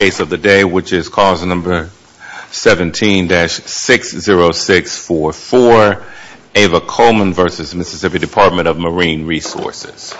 17-60644, Ava Coleman v. Mississippi Department of Marine Resources.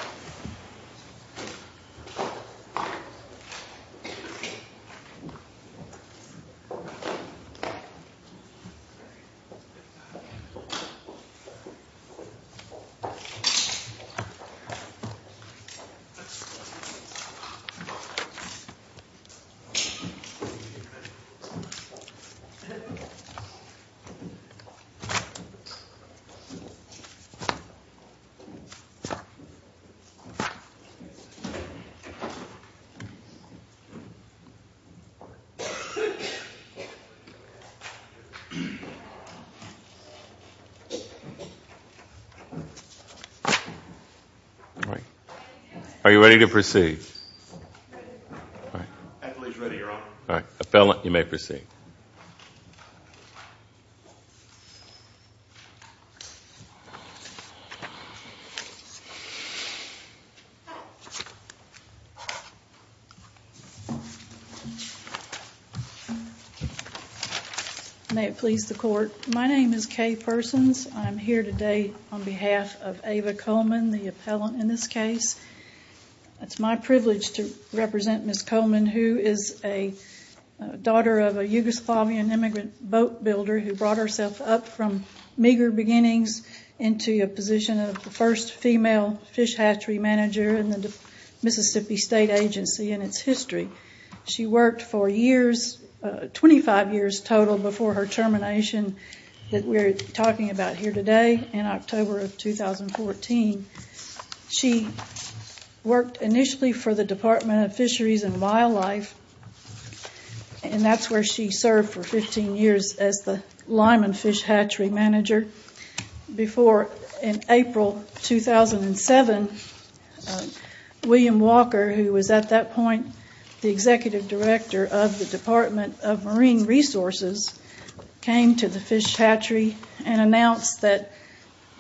Are you ready to proceed? May it please the Court, my name is Kay Persons. I'm here today on behalf of Ava Coleman, the appellant in this case. It's my privilege to represent Ms. Coleman who is a daughter of a Yugoslavian immigrant boat builder who brought herself up from meager beginnings into a position of the first female fish hatchery manager in the Mississippi State Agency and its history. She worked for 25 years total before her termination that we're talking about here today in October of 2014. She worked initially for the Department of Fisheries and Wildlife and that's where she served for 15 years as the Lyman Fish Hatchery Manager. Before, in April 2007, William Walker, who was at that point the Executive Director of the Department of Marine Resources, came to the fish hatchery and announced that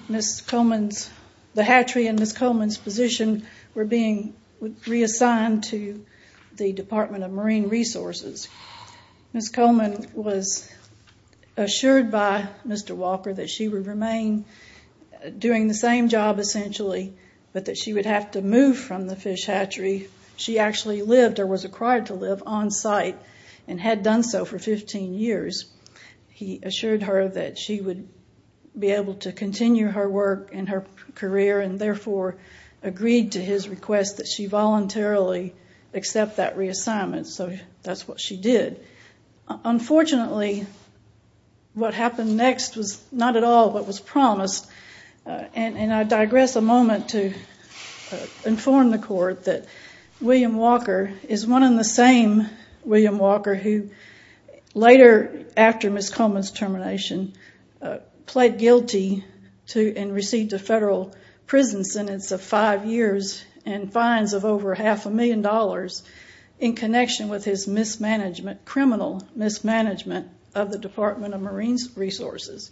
the hatchery and Ms. Coleman's position were being reassigned to the Department of Marine Resources. Ms. Coleman was assured by Mr. Walker that she would remain doing the same job essentially, but that she would have to move from the fish hatchery. She actually lived or was required to live on site and had done so for 15 years. He assured her that she would be able to continue her work and her career and therefore agreed to his request that she voluntarily accept that reassignment. So that's what she did. Unfortunately, what happened next was not at all what was promised. I digress a moment to inform the court that William Walker is one and the same William Walker who later, after Ms. Coleman's termination, pled guilty and received a federal prison sentence of five years and fines of over half a million dollars in connection with his criminal mismanagement of the Department of Marine Resources.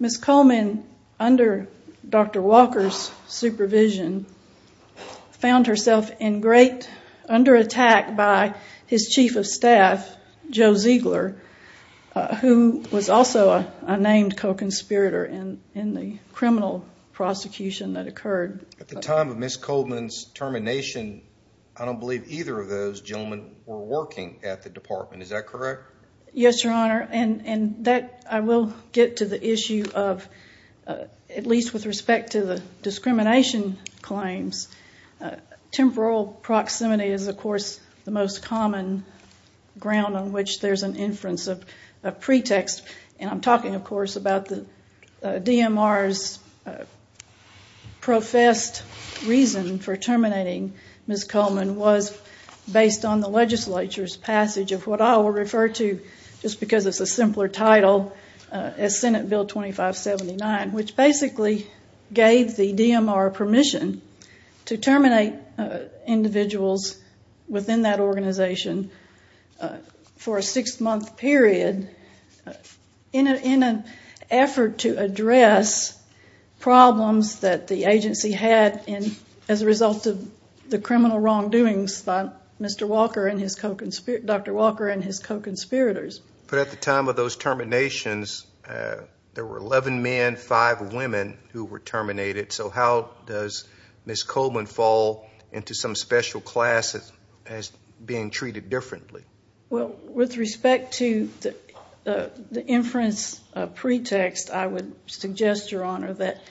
Ms. Coleman, under Dr. Walker's supervision, found herself under attack by his chief of staff, Joe Ziegler, who was also a named co-conspirator in the criminal prosecution that occurred. At the time of Ms. Coleman's termination, I don't believe either of those gentlemen were working at the department. Is that correct? Yes, Your Honor, and I will get to the issue of, at least with respect to the discrimination claims, temporal proximity is, of course, the most common ground on which there's an inference of pretext. And I'm talking, of course, about the DMR's professed reason for terminating Ms. Coleman was based on the legislature's passage of what I will refer to, just because it's a simpler title, as Senate Bill 2579, which basically gave the DMR permission to terminate individuals within that organization for a six-month period in an effort to address problems that the agency had as a result of the criminal wrongdoings by Dr. Walker and his co-conspirators. But at the time of those terminations, there were 11 men, 5 women who were terminated. So how does Ms. Coleman fall into some special class as being treated differently? Well, with respect to the inference of pretext, I would suggest, Your Honor, that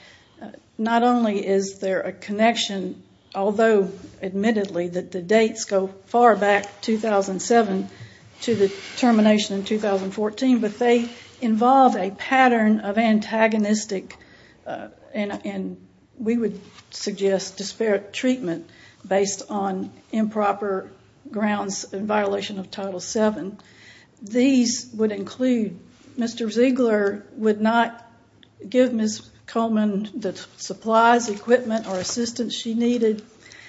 not only is there a connection, although admittedly that the dates go far back, 2007, to the termination in 2014, but they involve a pattern of antagonistic, and we would suggest disparate treatment based on improper grounds in violation of Title VII. These would include Mr. Ziegler would not give Ms. Coleman the supplies, equipment, or assistance she needed.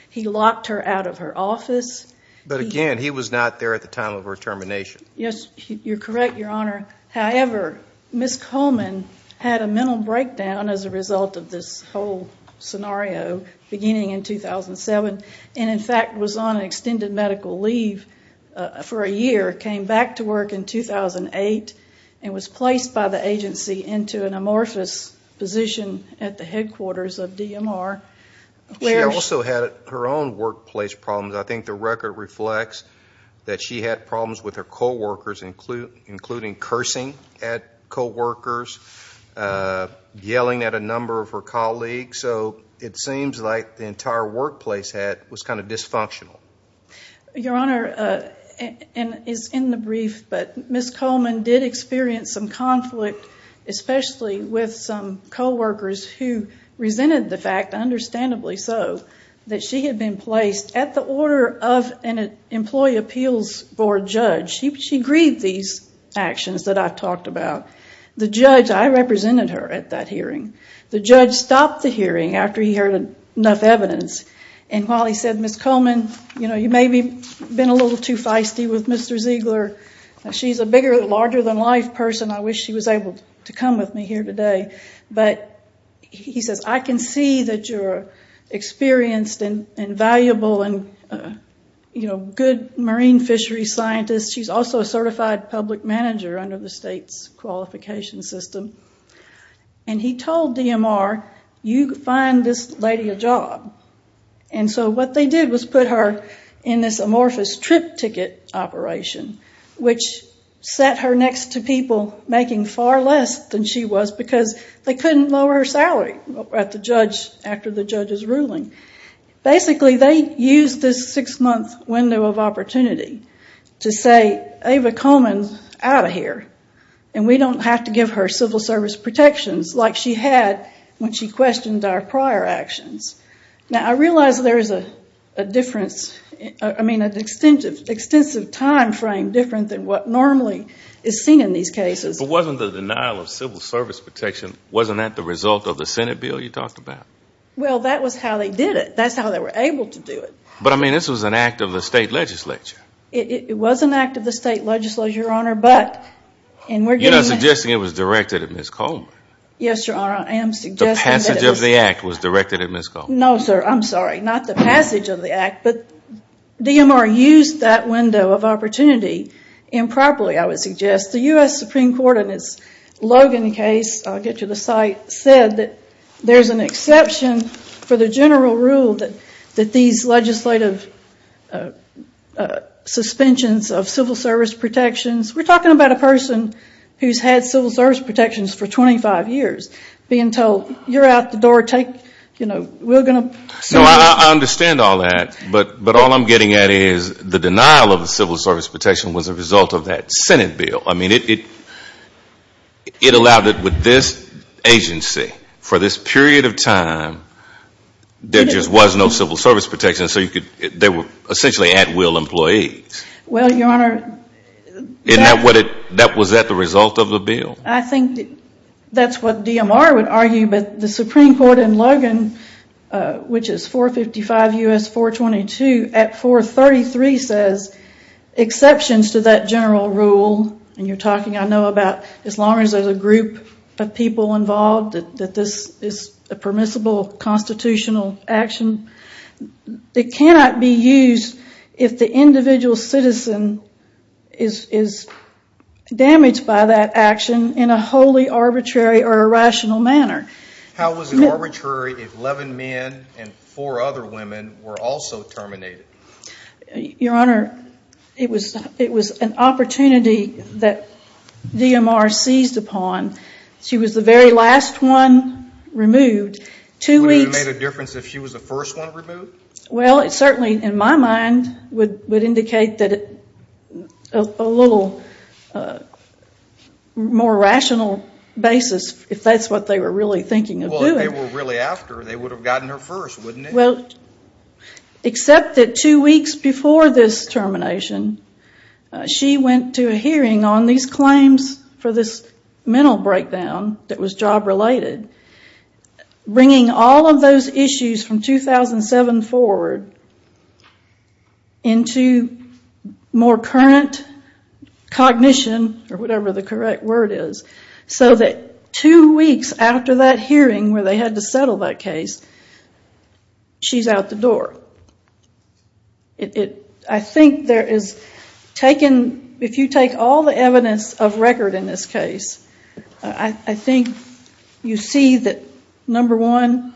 He locked her out of her office. But again, he was not there at the time of her termination. Yes, you're correct, Your Honor. However, Ms. Coleman had a mental breakdown as a result of this whole scenario beginning in 2007 and, in fact, was on extended medical leave for a year, came back to work in 2008, and was placed by the agency into an amorphous position at the headquarters of DMR. She also had her own workplace problems. I think the record reflects that she had problems with her coworkers, including cursing at coworkers, yelling at a number of her colleagues. So it seems like the entire workplace was kind of dysfunctional. Your Honor, and it's in the brief, but Ms. Coleman did experience some conflict, especially with some coworkers who resented the fact, understandably so, that she had been placed at the order of an employee appeals board judge. She grieved these actions that I've talked about. The judge, I represented her at that hearing. The judge stopped the hearing after he heard enough evidence, and while he said, Ms. Coleman, you know, you may have been a little too feisty with Mr. Ziegler. She's a bigger, larger-than-life person. I wish she was able to come with me here today. But he says, I can see that you're experienced and valuable and, you know, good marine fishery scientist. She's also a certified public manager under the state's qualification system. And he told DMR, you find this lady a job. And so what they did was put her in this amorphous trip ticket operation, which set her next to people making far less than she was because they couldn't lower her salary at the judge, after the judge's ruling. Basically, they used this six-month window of opportunity to say, Ava Coleman's out of here, and we don't have to give her civil service protections like she had when she questioned our prior actions. Now, I realize there is a difference, I mean, an extensive timeframe different than what normally is seen in these cases. But wasn't the denial of civil service protection, wasn't that the result of the Senate bill you talked about? Well, that was how they did it. That's how they were able to do it. But, I mean, this was an act of the state legislature. It was an act of the state legislature, Your Honor, but, and we're getting You're not suggesting it was directed at Ms. Coleman. Yes, Your Honor, I am suggesting The passage of the act was directed at Ms. Coleman. No, sir, I'm sorry. Not the passage of the act, but DMR used that window of opportunity improperly, I would suggest. The U.S. Supreme Court in its Logan case, I'll get to the site, said that there's an exception for the general rule that these legislative suspensions of civil service protections, we're talking about a person who's had civil service protections for 25 years, being told you're out the door, take, you know, we're going to No, I understand all that. But all I'm getting at is the denial of the civil service protection was a result of that Senate bill. I mean, it allowed it with this agency for this period of time, there just was no civil service protection, so you could, they were essentially at-will employees. Well, Your Honor, that Was that the result of the bill? I think that's what DMR would argue, but the Supreme Court in Logan, which is 455 U.S. 422, at 433 says exceptions to that general rule, and you're talking, I know, about as long as there's a group of people involved, that this is a permissible constitutional action. It cannot be used if the individual citizen is damaged by that action in a wholly arbitrary or irrational manner. How was it arbitrary if 11 men and 4 other women were also terminated? Your Honor, it was an opportunity that DMR seized upon. She was the very last one removed. Would it have made a difference if she was the first one removed? Well, it certainly, in my mind, would indicate that a little more rational basis, if that's what they were really thinking of doing. Well, if they were really after her, they would have gotten her first, wouldn't they? Well, except that two weeks before this termination, she went to a hearing on these claims for this mental breakdown that was job-related, bringing all of those issues from 2007 forward into more current cognition, or whatever the correct word is, so that two weeks after that hearing where they had to settle that case, she's out the door. I think there is, if you take all the evidence of record in this case, I think you see that, number one,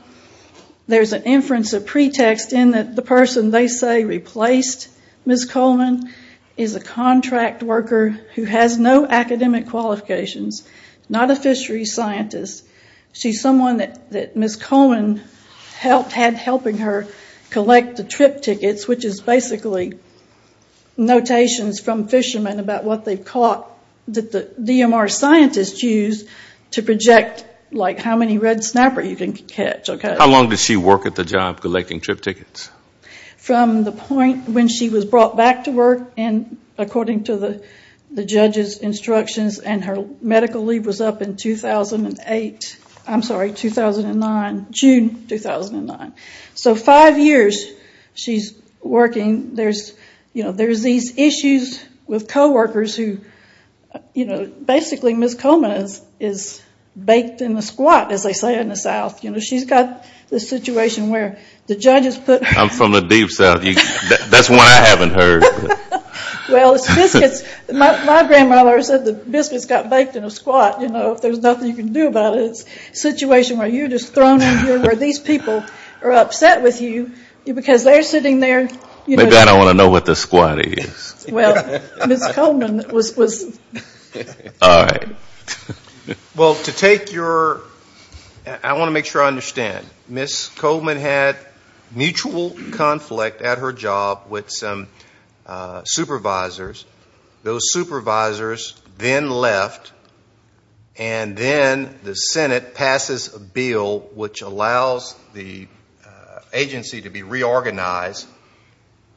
there's an inference of pretext in that the person they say replaced Ms. Coleman is a contract worker who has no academic qualifications, not a fishery scientist. She's someone that Ms. Coleman had helping her collect the trip tickets, which is basically notations from fishermen about what they've caught that the DMR scientists use to project how many red snapper you can catch. How long did she work at the job collecting trip tickets? From the point when she was brought back to work, according to the judge's instructions, and her medical leave was up in 2008. I'm sorry, 2009, June 2009. So five years she's working. There's these issues with coworkers who basically Ms. Coleman is baked in a squat, as they say in the South. She's got this situation where the judge has put her... I'm from the deep South. That's one I haven't heard. Well, my grandmother said the biscuits got baked in a squat. If there's nothing you can do about it, it's a situation where you're just thrown in here where these people are upset with you because they're sitting there... Maybe I don't want to know what the squat is. Well, Ms. Coleman was... All right. Well, to take your... I want to make sure I understand. Ms. Coleman had mutual conflict at her job with some supervisors. Those supervisors then left, and then the Senate passes a bill which allows the agency to be reorganized,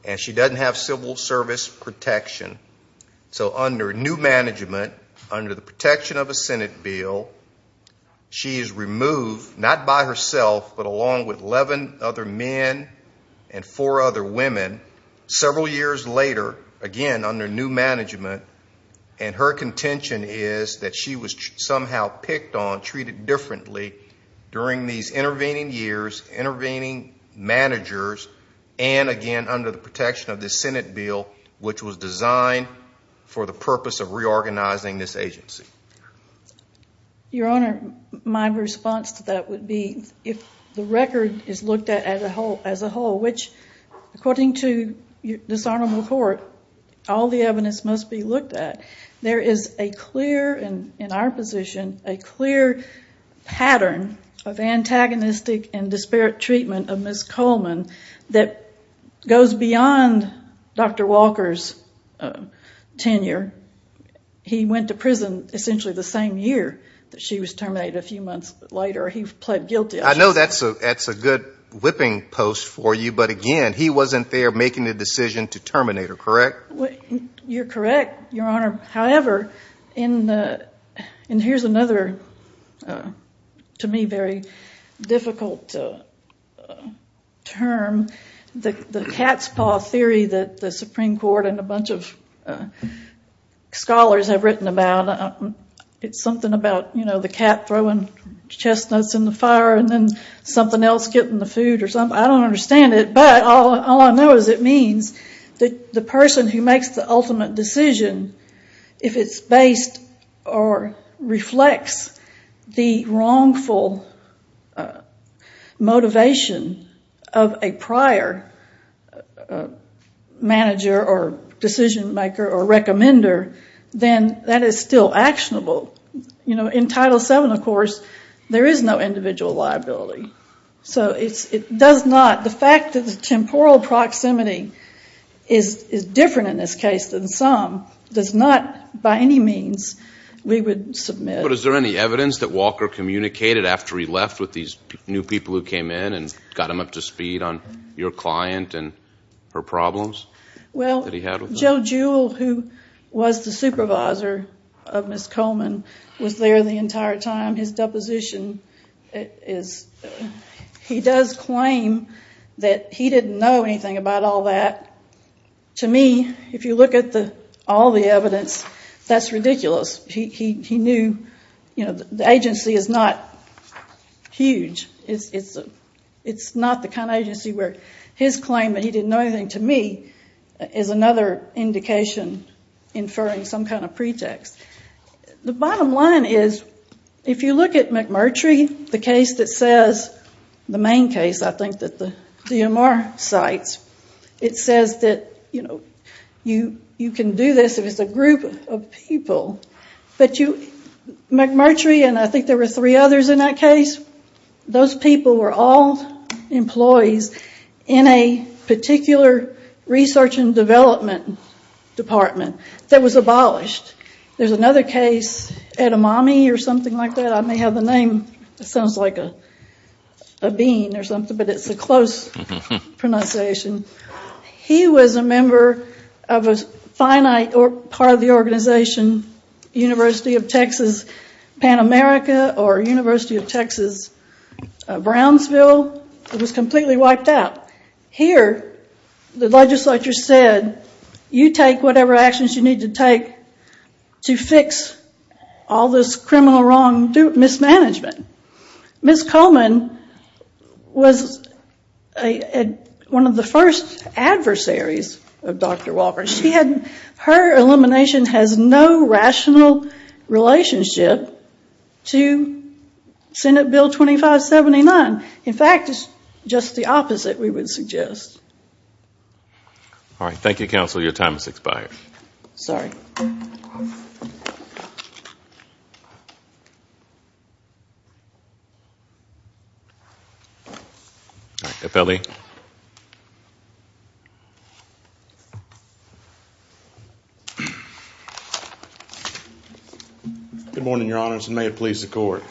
and she doesn't have civil service protection. So under new management, under the protection of a Senate bill, she is removed, not by herself, but along with 11 other men and four other women. Several years later, again under new management, and her contention is that she was somehow picked on, treated differently during these intervening years, intervening managers, and again under the protection of this Senate bill, which was designed for the purpose of reorganizing this agency. Your Honor, my response to that would be if the record is looked at as a whole, which according to dishonorable court, all the evidence must be looked at, there is a clear, in our position, a clear pattern of antagonistic and disparate treatment of Ms. Coleman that goes beyond Dr. Walker's tenure. He went to prison essentially the same year that she was terminated, a few months later. He pled guilty. I know that's a good whipping post for you, but again, he wasn't there making the decision to terminate her, correct? You're correct, Your Honor. However, and here's another, to me, very difficult term, the cat's paw theory that the Supreme Court and a bunch of scholars have written about. It's something about the cat throwing chestnuts in the fire and then something else getting the food or something. I don't understand it, but all I know is it means that the person who makes the ultimate decision, if it's based or reflects the wrongful motivation of a prior manager or decision maker or recommender, then that is still actionable. In Title VII, of course, there is no individual liability. So it does not, the fact that the temporal proximity is different in this case than some does not, by any means, we would submit. But is there any evidence that Walker communicated after he left with these new people who came in and got him up to speed on your client and her problems that he had with them? Well, Joe Jewell, who was the supervisor of Ms. Coleman, was there the entire time. His deposition is, he does claim that he didn't know anything about all that. To me, if you look at all the evidence, that's ridiculous. He knew the agency is not huge. It's not the kind of agency where his claim that he didn't know anything, to me, is another indication inferring some kind of pretext. The bottom line is, if you look at McMurtry, the case that says, the main case, I think, that the DMR cites, it says that you can do this if it's a group of people, but McMurtry, and I think there were three others in that case, those people were all employees in a particular research and development department that was abolished. There's another case, Edamame or something like that, I may have the name, it sounds like a bean or something, but it's a close pronunciation. He was a member of a finite part of the organization, University of Texas, Pan America, or University of Texas, Brownsville. It was completely wiped out. Here, the legislature said, you take whatever actions you need to take to fix all this criminal wrong mismanagement. Ms. Coleman was one of the first adversaries of Dr. Walker. Her elimination has no rational relationship to Senate Bill 2579. In fact, it's just the opposite, we would suggest. All right, thank you, counsel. Your time has expired. Sorry. All right, FLE. Good morning, your honors, and may it please the court.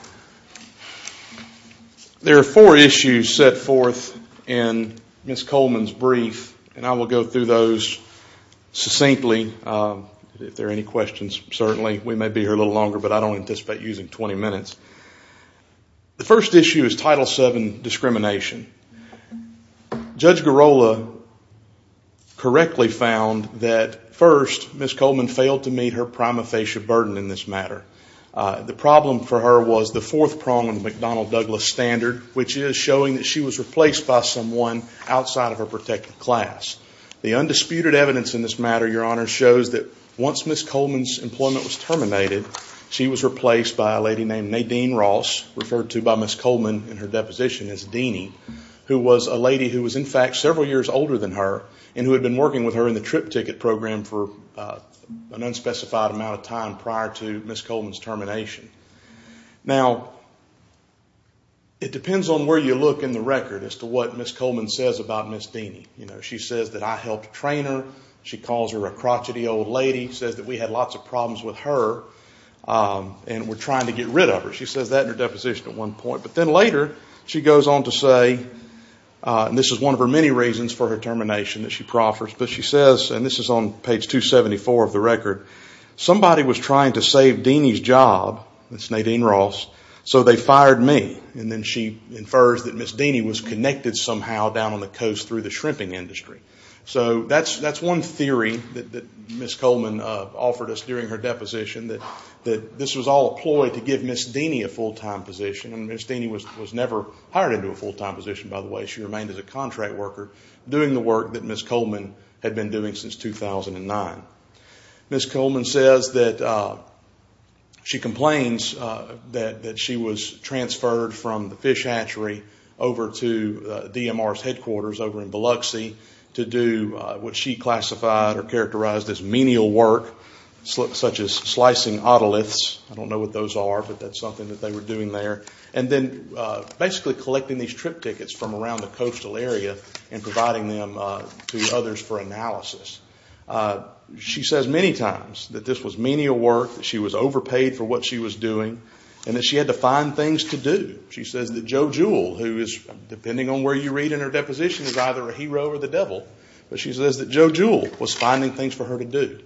There are four issues set forth in Ms. Coleman's brief, and I will go through those succinctly. If there are any questions, certainly. We may be here a little longer, but I don't anticipate using 20 minutes. The first issue is Title VII discrimination. Judge Garola correctly found that, first, Ms. Coleman failed to meet her prima facie burden in this matter. The problem for her was the fourth prong of the McDonnell-Douglas standard, which is showing that she was replaced by someone outside of her protected class. The undisputed evidence in this matter, your honors, shows that once Ms. Coleman's employment was terminated, she was replaced by a lady named Nadine Ross, referred to by Ms. Coleman in her deposition as Dini, who was a lady who was, in fact, several years older than her, and who had been working with her in the trip ticket program for an unspecified amount of time prior to Ms. Coleman's termination. Now, it depends on where you look in the record as to what Ms. Coleman says about Ms. Dini. She says that I helped train her. She calls her a crotchety old lady, says that we had lots of problems with her, and we're trying to get rid of her. She says that in her deposition at one point. But then later she goes on to say, and this is one of her many reasons for her termination that she proffers, but she says, and this is on page 274 of the record, somebody was trying to save Dini's job, Ms. Nadine Ross, so they fired me. And then she infers that Ms. Dini was connected somehow down on the coast through the shrimping industry. So that's one theory that Ms. Coleman offered us during her deposition, that this was all a ploy to give Ms. Dini a full-time position. And Ms. Dini was never hired into a full-time position, by the way. She remained as a contract worker doing the work that Ms. Coleman had been doing since 2009. Ms. Coleman says that she complains that she was transferred from the fish hatchery over to DMR's headquarters over in Biloxi to do what she classified or characterized as menial work, such as slicing otoliths. I don't know what those are, but that's something that they were doing there. And then basically collecting these trip tickets from around the coastal area and providing them to others for analysis. She says many times that this was menial work, that she was overpaid for what she was doing, and that she had to find things to do. She says that Joe Jewell, who is, depending on where you read in her deposition, is either a hero or the devil, but she says that Joe Jewell was finding things for her to do.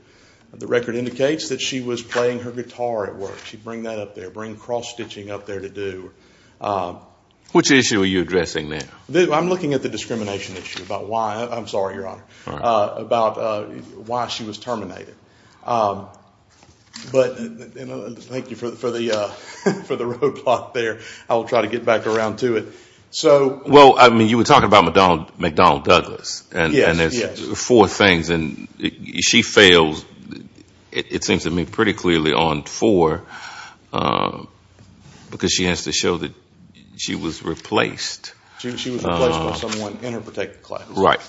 The record indicates that she was playing her guitar at work. She'd bring that up there, bring cross-stitching up there to do. Which issue are you addressing now? I'm looking at the discrimination issue about why, I'm sorry, Your Honor, about why she was terminated. But thank you for the roadblock there. I will try to get back around to it. Well, I mean, you were talking about McDonald Douglas. Yes, yes. Four things. And she fails, it seems to me, pretty clearly on four, because she has to show that she was replaced. She was replaced by someone in her particular class. Right.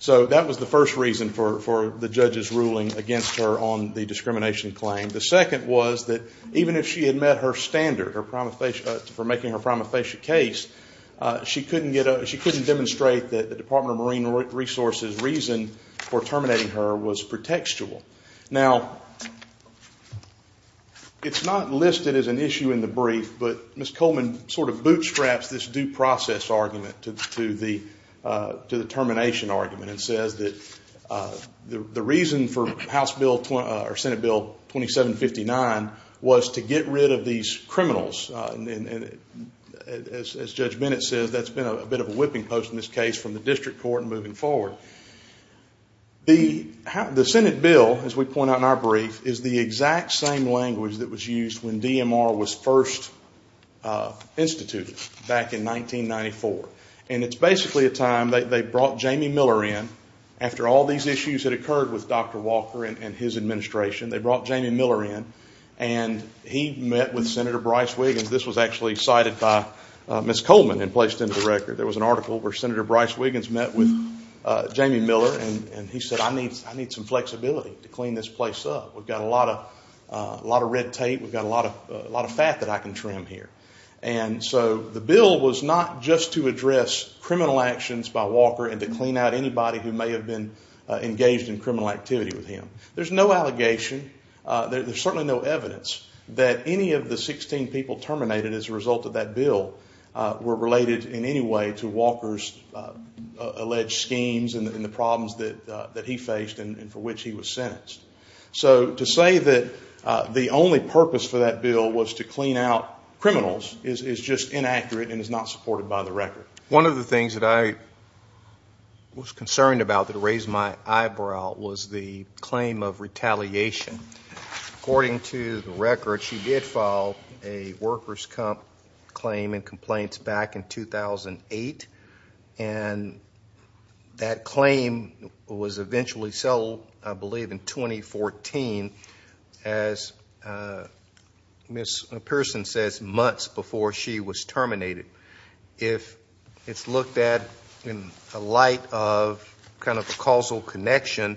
So that was the first reason for the judge's ruling against her on the discrimination claim. The second was that even if she had met her standard for making her prima facie case, she couldn't demonstrate that the Department of Marine Resources' reason for terminating her was pretextual. Now, it's not listed as an issue in the brief, but Ms. Coleman sort of bootstraps this due process argument to the termination argument and says that the reason for House Bill or Senate Bill 2759 was to get rid of these criminals. And as Judge Bennett says, that's been a bit of a whipping post in this case from the district court moving forward. The Senate bill, as we point out in our brief, is the exact same language that was used when DMR was first instituted back in 1994. And it's basically a time, they brought Jamie Miller in, after all these issues that occurred with Dr. Walker and his administration, they brought Jamie Miller in and he met with Senator Bryce Wiggins. This was actually cited by Ms. Coleman and placed into the record. There was an article where Senator Bryce Wiggins met with Jamie Miller and he said, I need some flexibility to clean this place up. We've got a lot of red tape. We've got a lot of fat that I can trim here. And so the bill was not just to address criminal actions by Walker There's no allegation, there's certainly no evidence that any of the 16 people terminated as a result of that bill were related in any way to Walker's alleged schemes and the problems that he faced and for which he was sentenced. So to say that the only purpose for that bill was to clean out criminals is just inaccurate and is not supported by the record. One of the things that I was concerned about that raised my eyebrow was the claim of retaliation. According to the record, she did file a workers' comp claim and complaints back in 2008. And that claim was eventually settled, I believe, in 2014, as Ms. Pearson says, months before she was terminated. If it's looked at in the light of kind of a causal connection,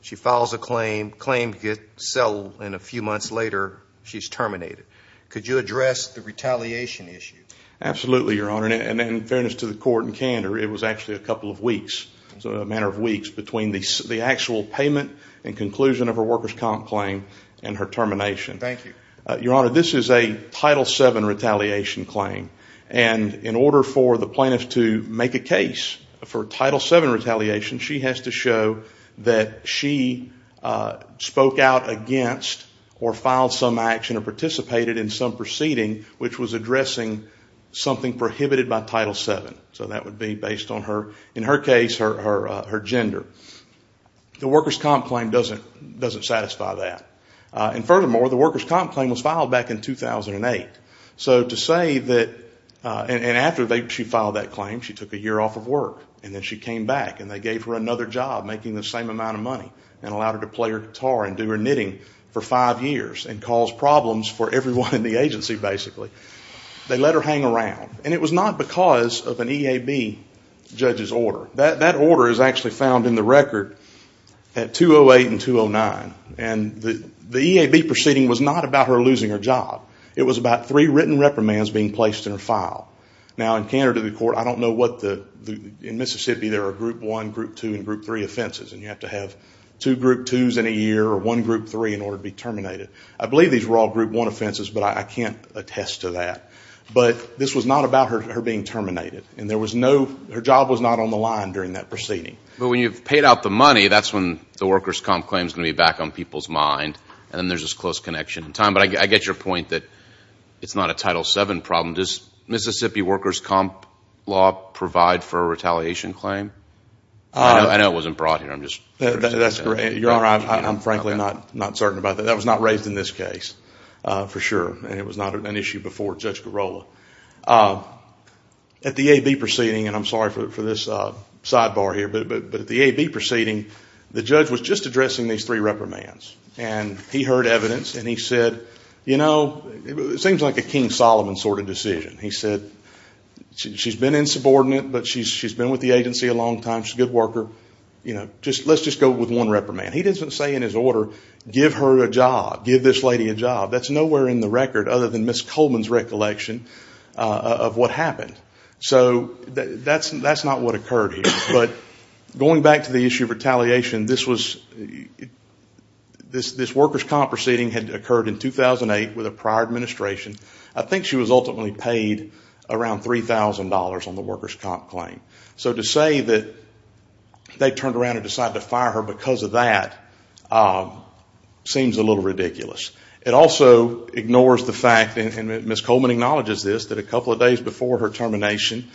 she files a claim, claim gets settled, and a few months later she's terminated. Could you address the retaliation issue? Absolutely, Your Honor. And in fairness to the court and candor, it was actually a couple of weeks, a matter of weeks between the actual payment and conclusion of her workers' comp claim and her termination. Thank you. Your Honor, this is a Title VII retaliation claim. And in order for the plaintiff to make a case for Title VII retaliation, she has to show that she spoke out against or filed some action or participated in some proceeding which was addressing something prohibited by Title VII. So that would be based on her, in her case, her gender. The workers' comp claim doesn't satisfy that. And furthermore, the workers' comp claim was filed back in 2008. So to say that, and after she filed that claim, she took a year off of work, and then she came back and they gave her another job making the same amount of money and allowed her to play her guitar and do her knitting for five years and cause problems for everyone in the agency, basically. They let her hang around. And it was not because of an EAB judge's order. That order is actually found in the record at 208 and 209. And the EAB proceeding was not about her losing her job. It was about three written reprimands being placed in her file. Now, in Canada, the court, I don't know what the, in Mississippi, there are Group 1, Group 2, and Group 3 offenses. And you have to have two Group 2s in a year or one Group 3 in order to be terminated. I believe these were all Group 1 offenses, but I can't attest to that. But this was not about her being terminated. And there was no, her job was not on the line during that proceeding. But when you've paid out the money, that's when the workers' comp claim is going to be back on people's mind and then there's this close connection in time. But I get your point that it's not a Title VII problem. Does Mississippi workers' comp law provide for a retaliation claim? I know it wasn't brought here. That's correct. Your Honor, I'm frankly not certain about that. That was not raised in this case, for sure. And it was not an issue before Judge Girola. At the AB proceeding, and I'm sorry for this sidebar here, but at the AB proceeding, the judge was just addressing these three reprimands. And he heard evidence and he said, you know, it seems like a King Solomon sort of decision. He said, she's been insubordinate, but she's been with the agency a long time. She's a good worker. Let's just go with one reprimand. He doesn't say in his order, give her a job, give this lady a job. That's nowhere in the record other than Ms. Coleman's recollection of what happened. So that's not what occurred here. But going back to the issue of retaliation, this was, this workers' comp proceeding had occurred in 2008 with a prior administration. I think she was ultimately paid around $3,000 on the workers' comp claim. So to say that they turned around and decided to fire her because of that seems a little ridiculous. It also ignores the fact, and Ms. Coleman acknowledges this, that a couple of days before her termination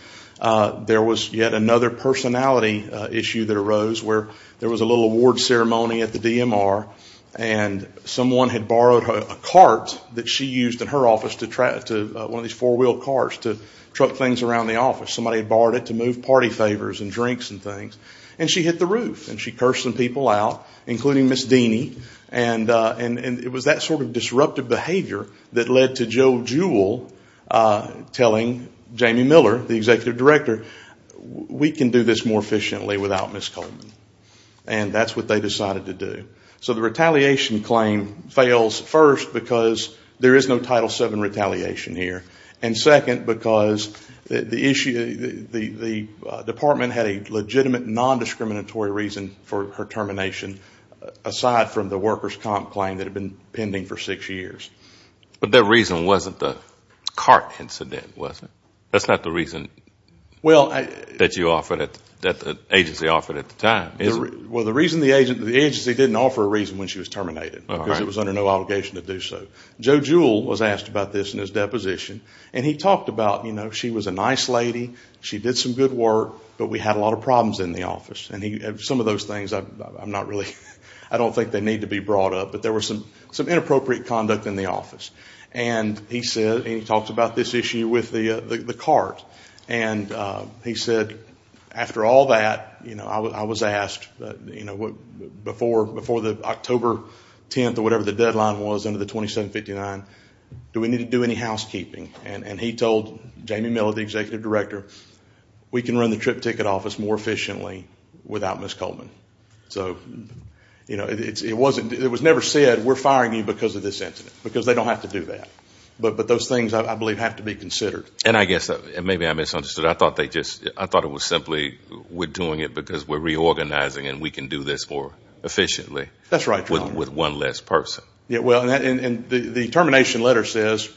there was yet another personality issue that arose where there was a little award ceremony at the DMR and someone had borrowed a cart that she used in her office, one of these four-wheel carts, to truck things around the office. Somebody had borrowed it to move party favors and drinks and things. And she hit the roof and she cursed some people out, including Ms. Dini. And it was that sort of disruptive behavior that led to Joe Jewell telling Jamie Miller, the executive director, we can do this more efficiently without Ms. Coleman. And that's what they decided to do. So the retaliation claim fails first because there is no Title VII retaliation here, and second because the department had a legitimate nondiscriminatory reason for her termination aside from the workers' comp claim that had been pending for six years. But that reason wasn't the cart incident, was it? That's not the reason that the agency offered at the time, is it? Well, the agency didn't offer a reason when she was terminated because it was under no obligation to do so. Joe Jewell was asked about this in his deposition, and he talked about she was a nice lady, she did some good work, but we had a lot of problems in the office. And some of those things, I don't think they need to be brought up, but there was some inappropriate conduct in the office. And he talked about this issue with the cart. And he said, after all that, I was asked before the October 10th or whatever the deadline was under the 2759, do we need to do any housekeeping? And he told Jamie Miller, the executive director, we can run the trip ticket office more efficiently without Ms. Coleman. So it was never said, we're firing you because of this incident, because they don't have to do that. But those things, I believe, have to be considered. And I guess maybe I misunderstood. I thought it was simply we're doing it because we're reorganizing and we can do this more efficiently with one less person. The termination letter says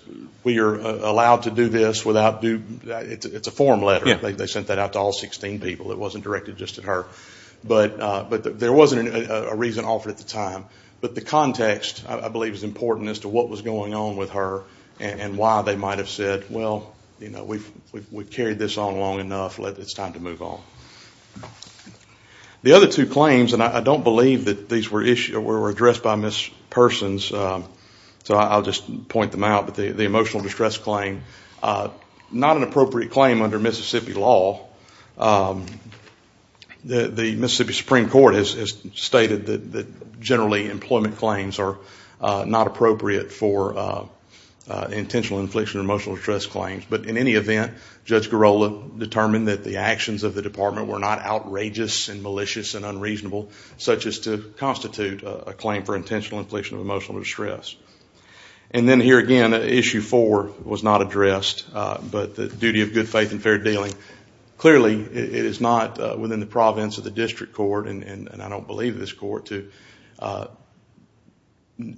we are allowed to do this without due, it's a form letter, they sent that out to all 16 people, it wasn't directed just at her. But there wasn't a reason offered at the time. But the context, I believe, is important as to what was going on with her and why they might have said, well, we've carried this on long enough, it's time to move on. The other two claims, and I don't believe that these were addressed by Ms. Persons, so I'll just point them out, but the emotional distress claim, not an appropriate claim under Mississippi law. The Mississippi Supreme Court has stated that generally employment claims are not appropriate for intentional infliction of emotional distress claims. But in any event, Judge Girola determined that the actions of the department were not outrageous and malicious and unreasonable, such as to constitute a claim for intentional infliction of emotional distress. And then here again, Issue 4 was not addressed, but the duty of good faith and fair dealing. Clearly, it is not within the province of the district court, and I don't believe this court to,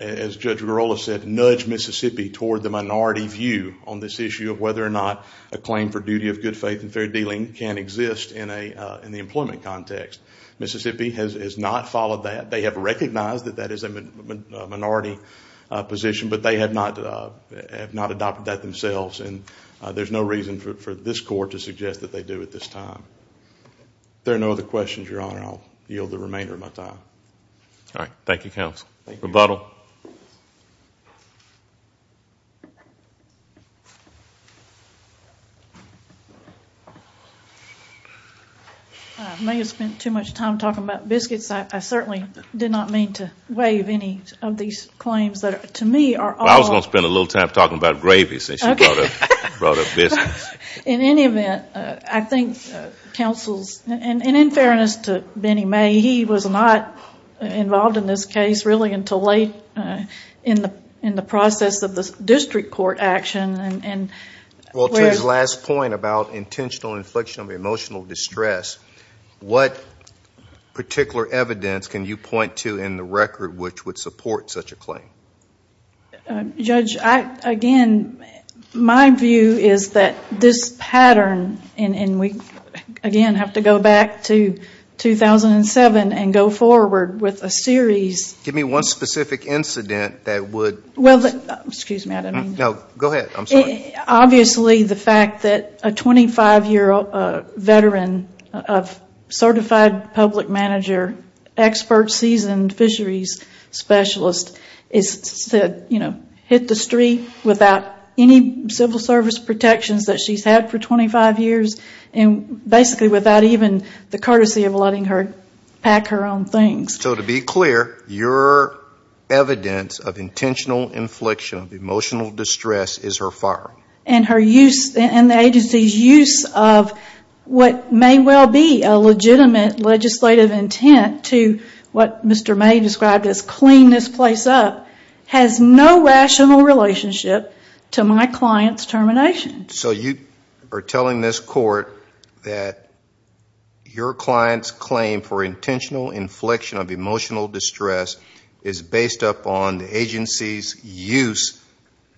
as Judge Girola said, nudge Mississippi toward the minority view on this issue of whether or not a claim for duty of good faith and fair dealing can exist in the employment context. Mississippi has not followed that. They have recognized that that is a minority position, but they have not adopted that themselves, and there's no reason for this court to suggest that they do at this time. If there are no other questions, Your Honor, I'll yield the remainder of my time. All right. Thank you, counsel. Rebuttal. Rebuttal. I may have spent too much time talking about biscuits. I certainly did not mean to waive any of these claims that to me are all I was going to spend a little time talking about gravy since you brought up biscuits. In any event, I think counsel's, and in fairness to Benny May, he was not involved in this case really until late in the process of the district court action. To his last point about intentional infliction of emotional distress, what particular evidence can you point to in the record which would support such a claim? Judge, again, my view is that this pattern, and we again have to go back to 2007 and go forward with a series. Give me one specific incident that would. Well, excuse me. No, go ahead. I'm sorry. Obviously the fact that a 25-year veteran of certified public manager, expert seasoned fisheries specialist is hit the street without any civil service protections that she's had for 25 years, and basically without even the courtesy of letting her pack her own things. So to be clear, your evidence of intentional infliction of emotional distress is her firearm. And her use, and the agency's use of what may well be a legitimate legislative intent to what Mr. May described as clean this place up, has no rational relationship to my client's termination. So you are telling this court that your client's claim for intentional infliction of emotional distress is based upon the agency's use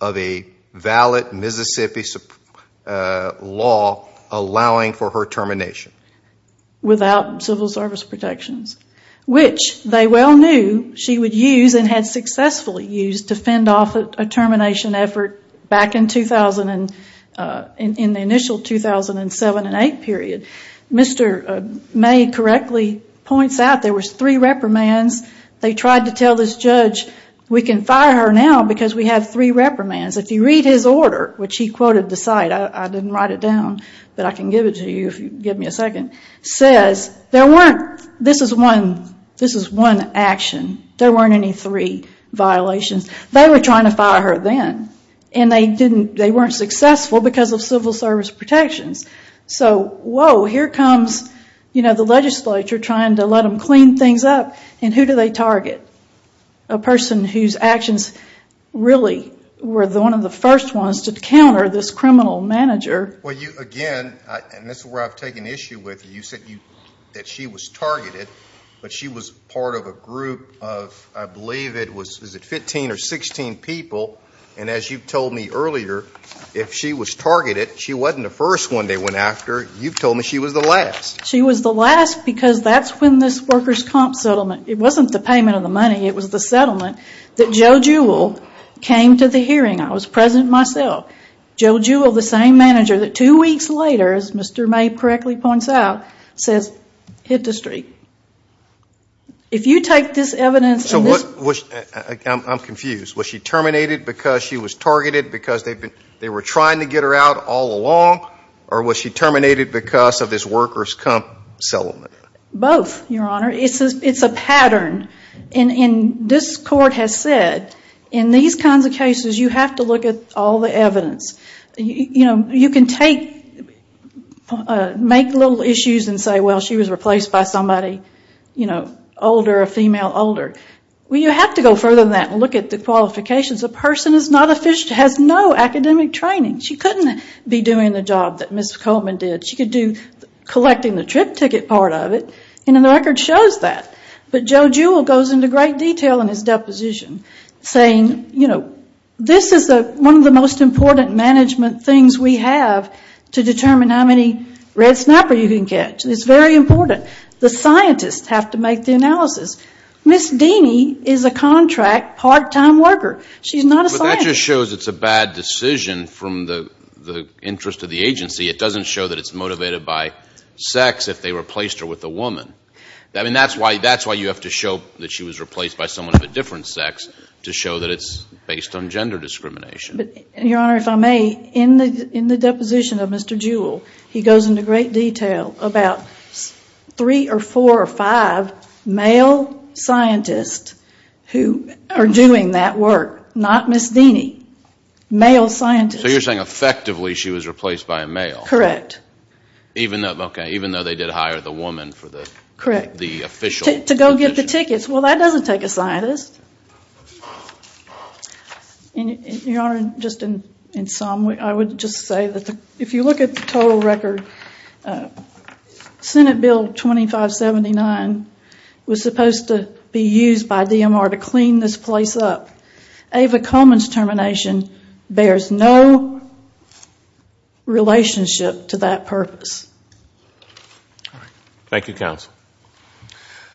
of a valid Mississippi law allowing for her termination? Without civil service protections, which they well knew she would use and had successfully used to fend off a termination effort back in the initial 2007 and 2008 period. Mr. May correctly points out there were three reprimands. They tried to tell this judge, we can fire her now because we have three reprimands. If you read his order, which he quoted the site, I didn't write it down, but I can give it to you if you give me a second, says there weren't, this is one action, there weren't any three violations. They were trying to fire her then, and they weren't successful because of civil service protections. So, whoa, here comes the legislature trying to let them clean things up, and who do they target? A person whose actions really were one of the first ones to counter this criminal manager. Well, you, again, and this is where I've taken issue with you, you said that she was targeted, but she was part of a group of, I believe it was, is it 15 or 16 people? And as you told me earlier, if she was targeted, she wasn't the first one they went after. You've told me she was the last. She was the last because that's when this workers' comp settlement, it wasn't the payment of the money, it was the settlement that Joe Jewell came to the hearing. I was present myself. Joe Jewell, the same manager that two weeks later, as Mr. May correctly points out, says, hit the street. If you take this evidence and this. I'm confused. Was she terminated because she was targeted, because they were trying to get her out all along, or was she terminated because of this workers' comp settlement? Both, Your Honor. It's a pattern. And this court has said, in these kinds of cases, you have to look at all the evidence. You can make little issues and say, well, she was replaced by somebody older, a female older. Well, you have to go further than that and look at the qualifications. The person has no academic training. She couldn't be doing the job that Ms. Coleman did. She could do collecting the trip ticket part of it, and the record shows that. But Joe Jewell goes into great detail in his deposition, saying, you know, this is one of the most important management things we have to determine how many red snapper you can catch. It's very important. The scientists have to make the analysis. Ms. Deany is a contract, part-time worker. She's not a scientist. But that just shows it's a bad decision from the interest of the agency. It doesn't show that it's motivated by sex if they replaced her with a woman. I mean, that's why you have to show that she was replaced by someone of a different sex to show that it's based on gender discrimination. Your Honor, if I may, in the deposition of Mr. Jewell, he goes into great detail about three or four or five male scientists who are doing that work, not Ms. Deany, male scientists. So you're saying effectively she was replaced by a male. Correct. Okay, even though they did hire the woman for the official position. To go get the tickets. Well, that doesn't take a scientist. Your Honor, just in sum, I would just say that if you look at the total record, Senate Bill 2579 was supposed to be used by DMR to clean this place up. Ava Coleman's termination bears no relationship to that purpose. Thank you, counsel.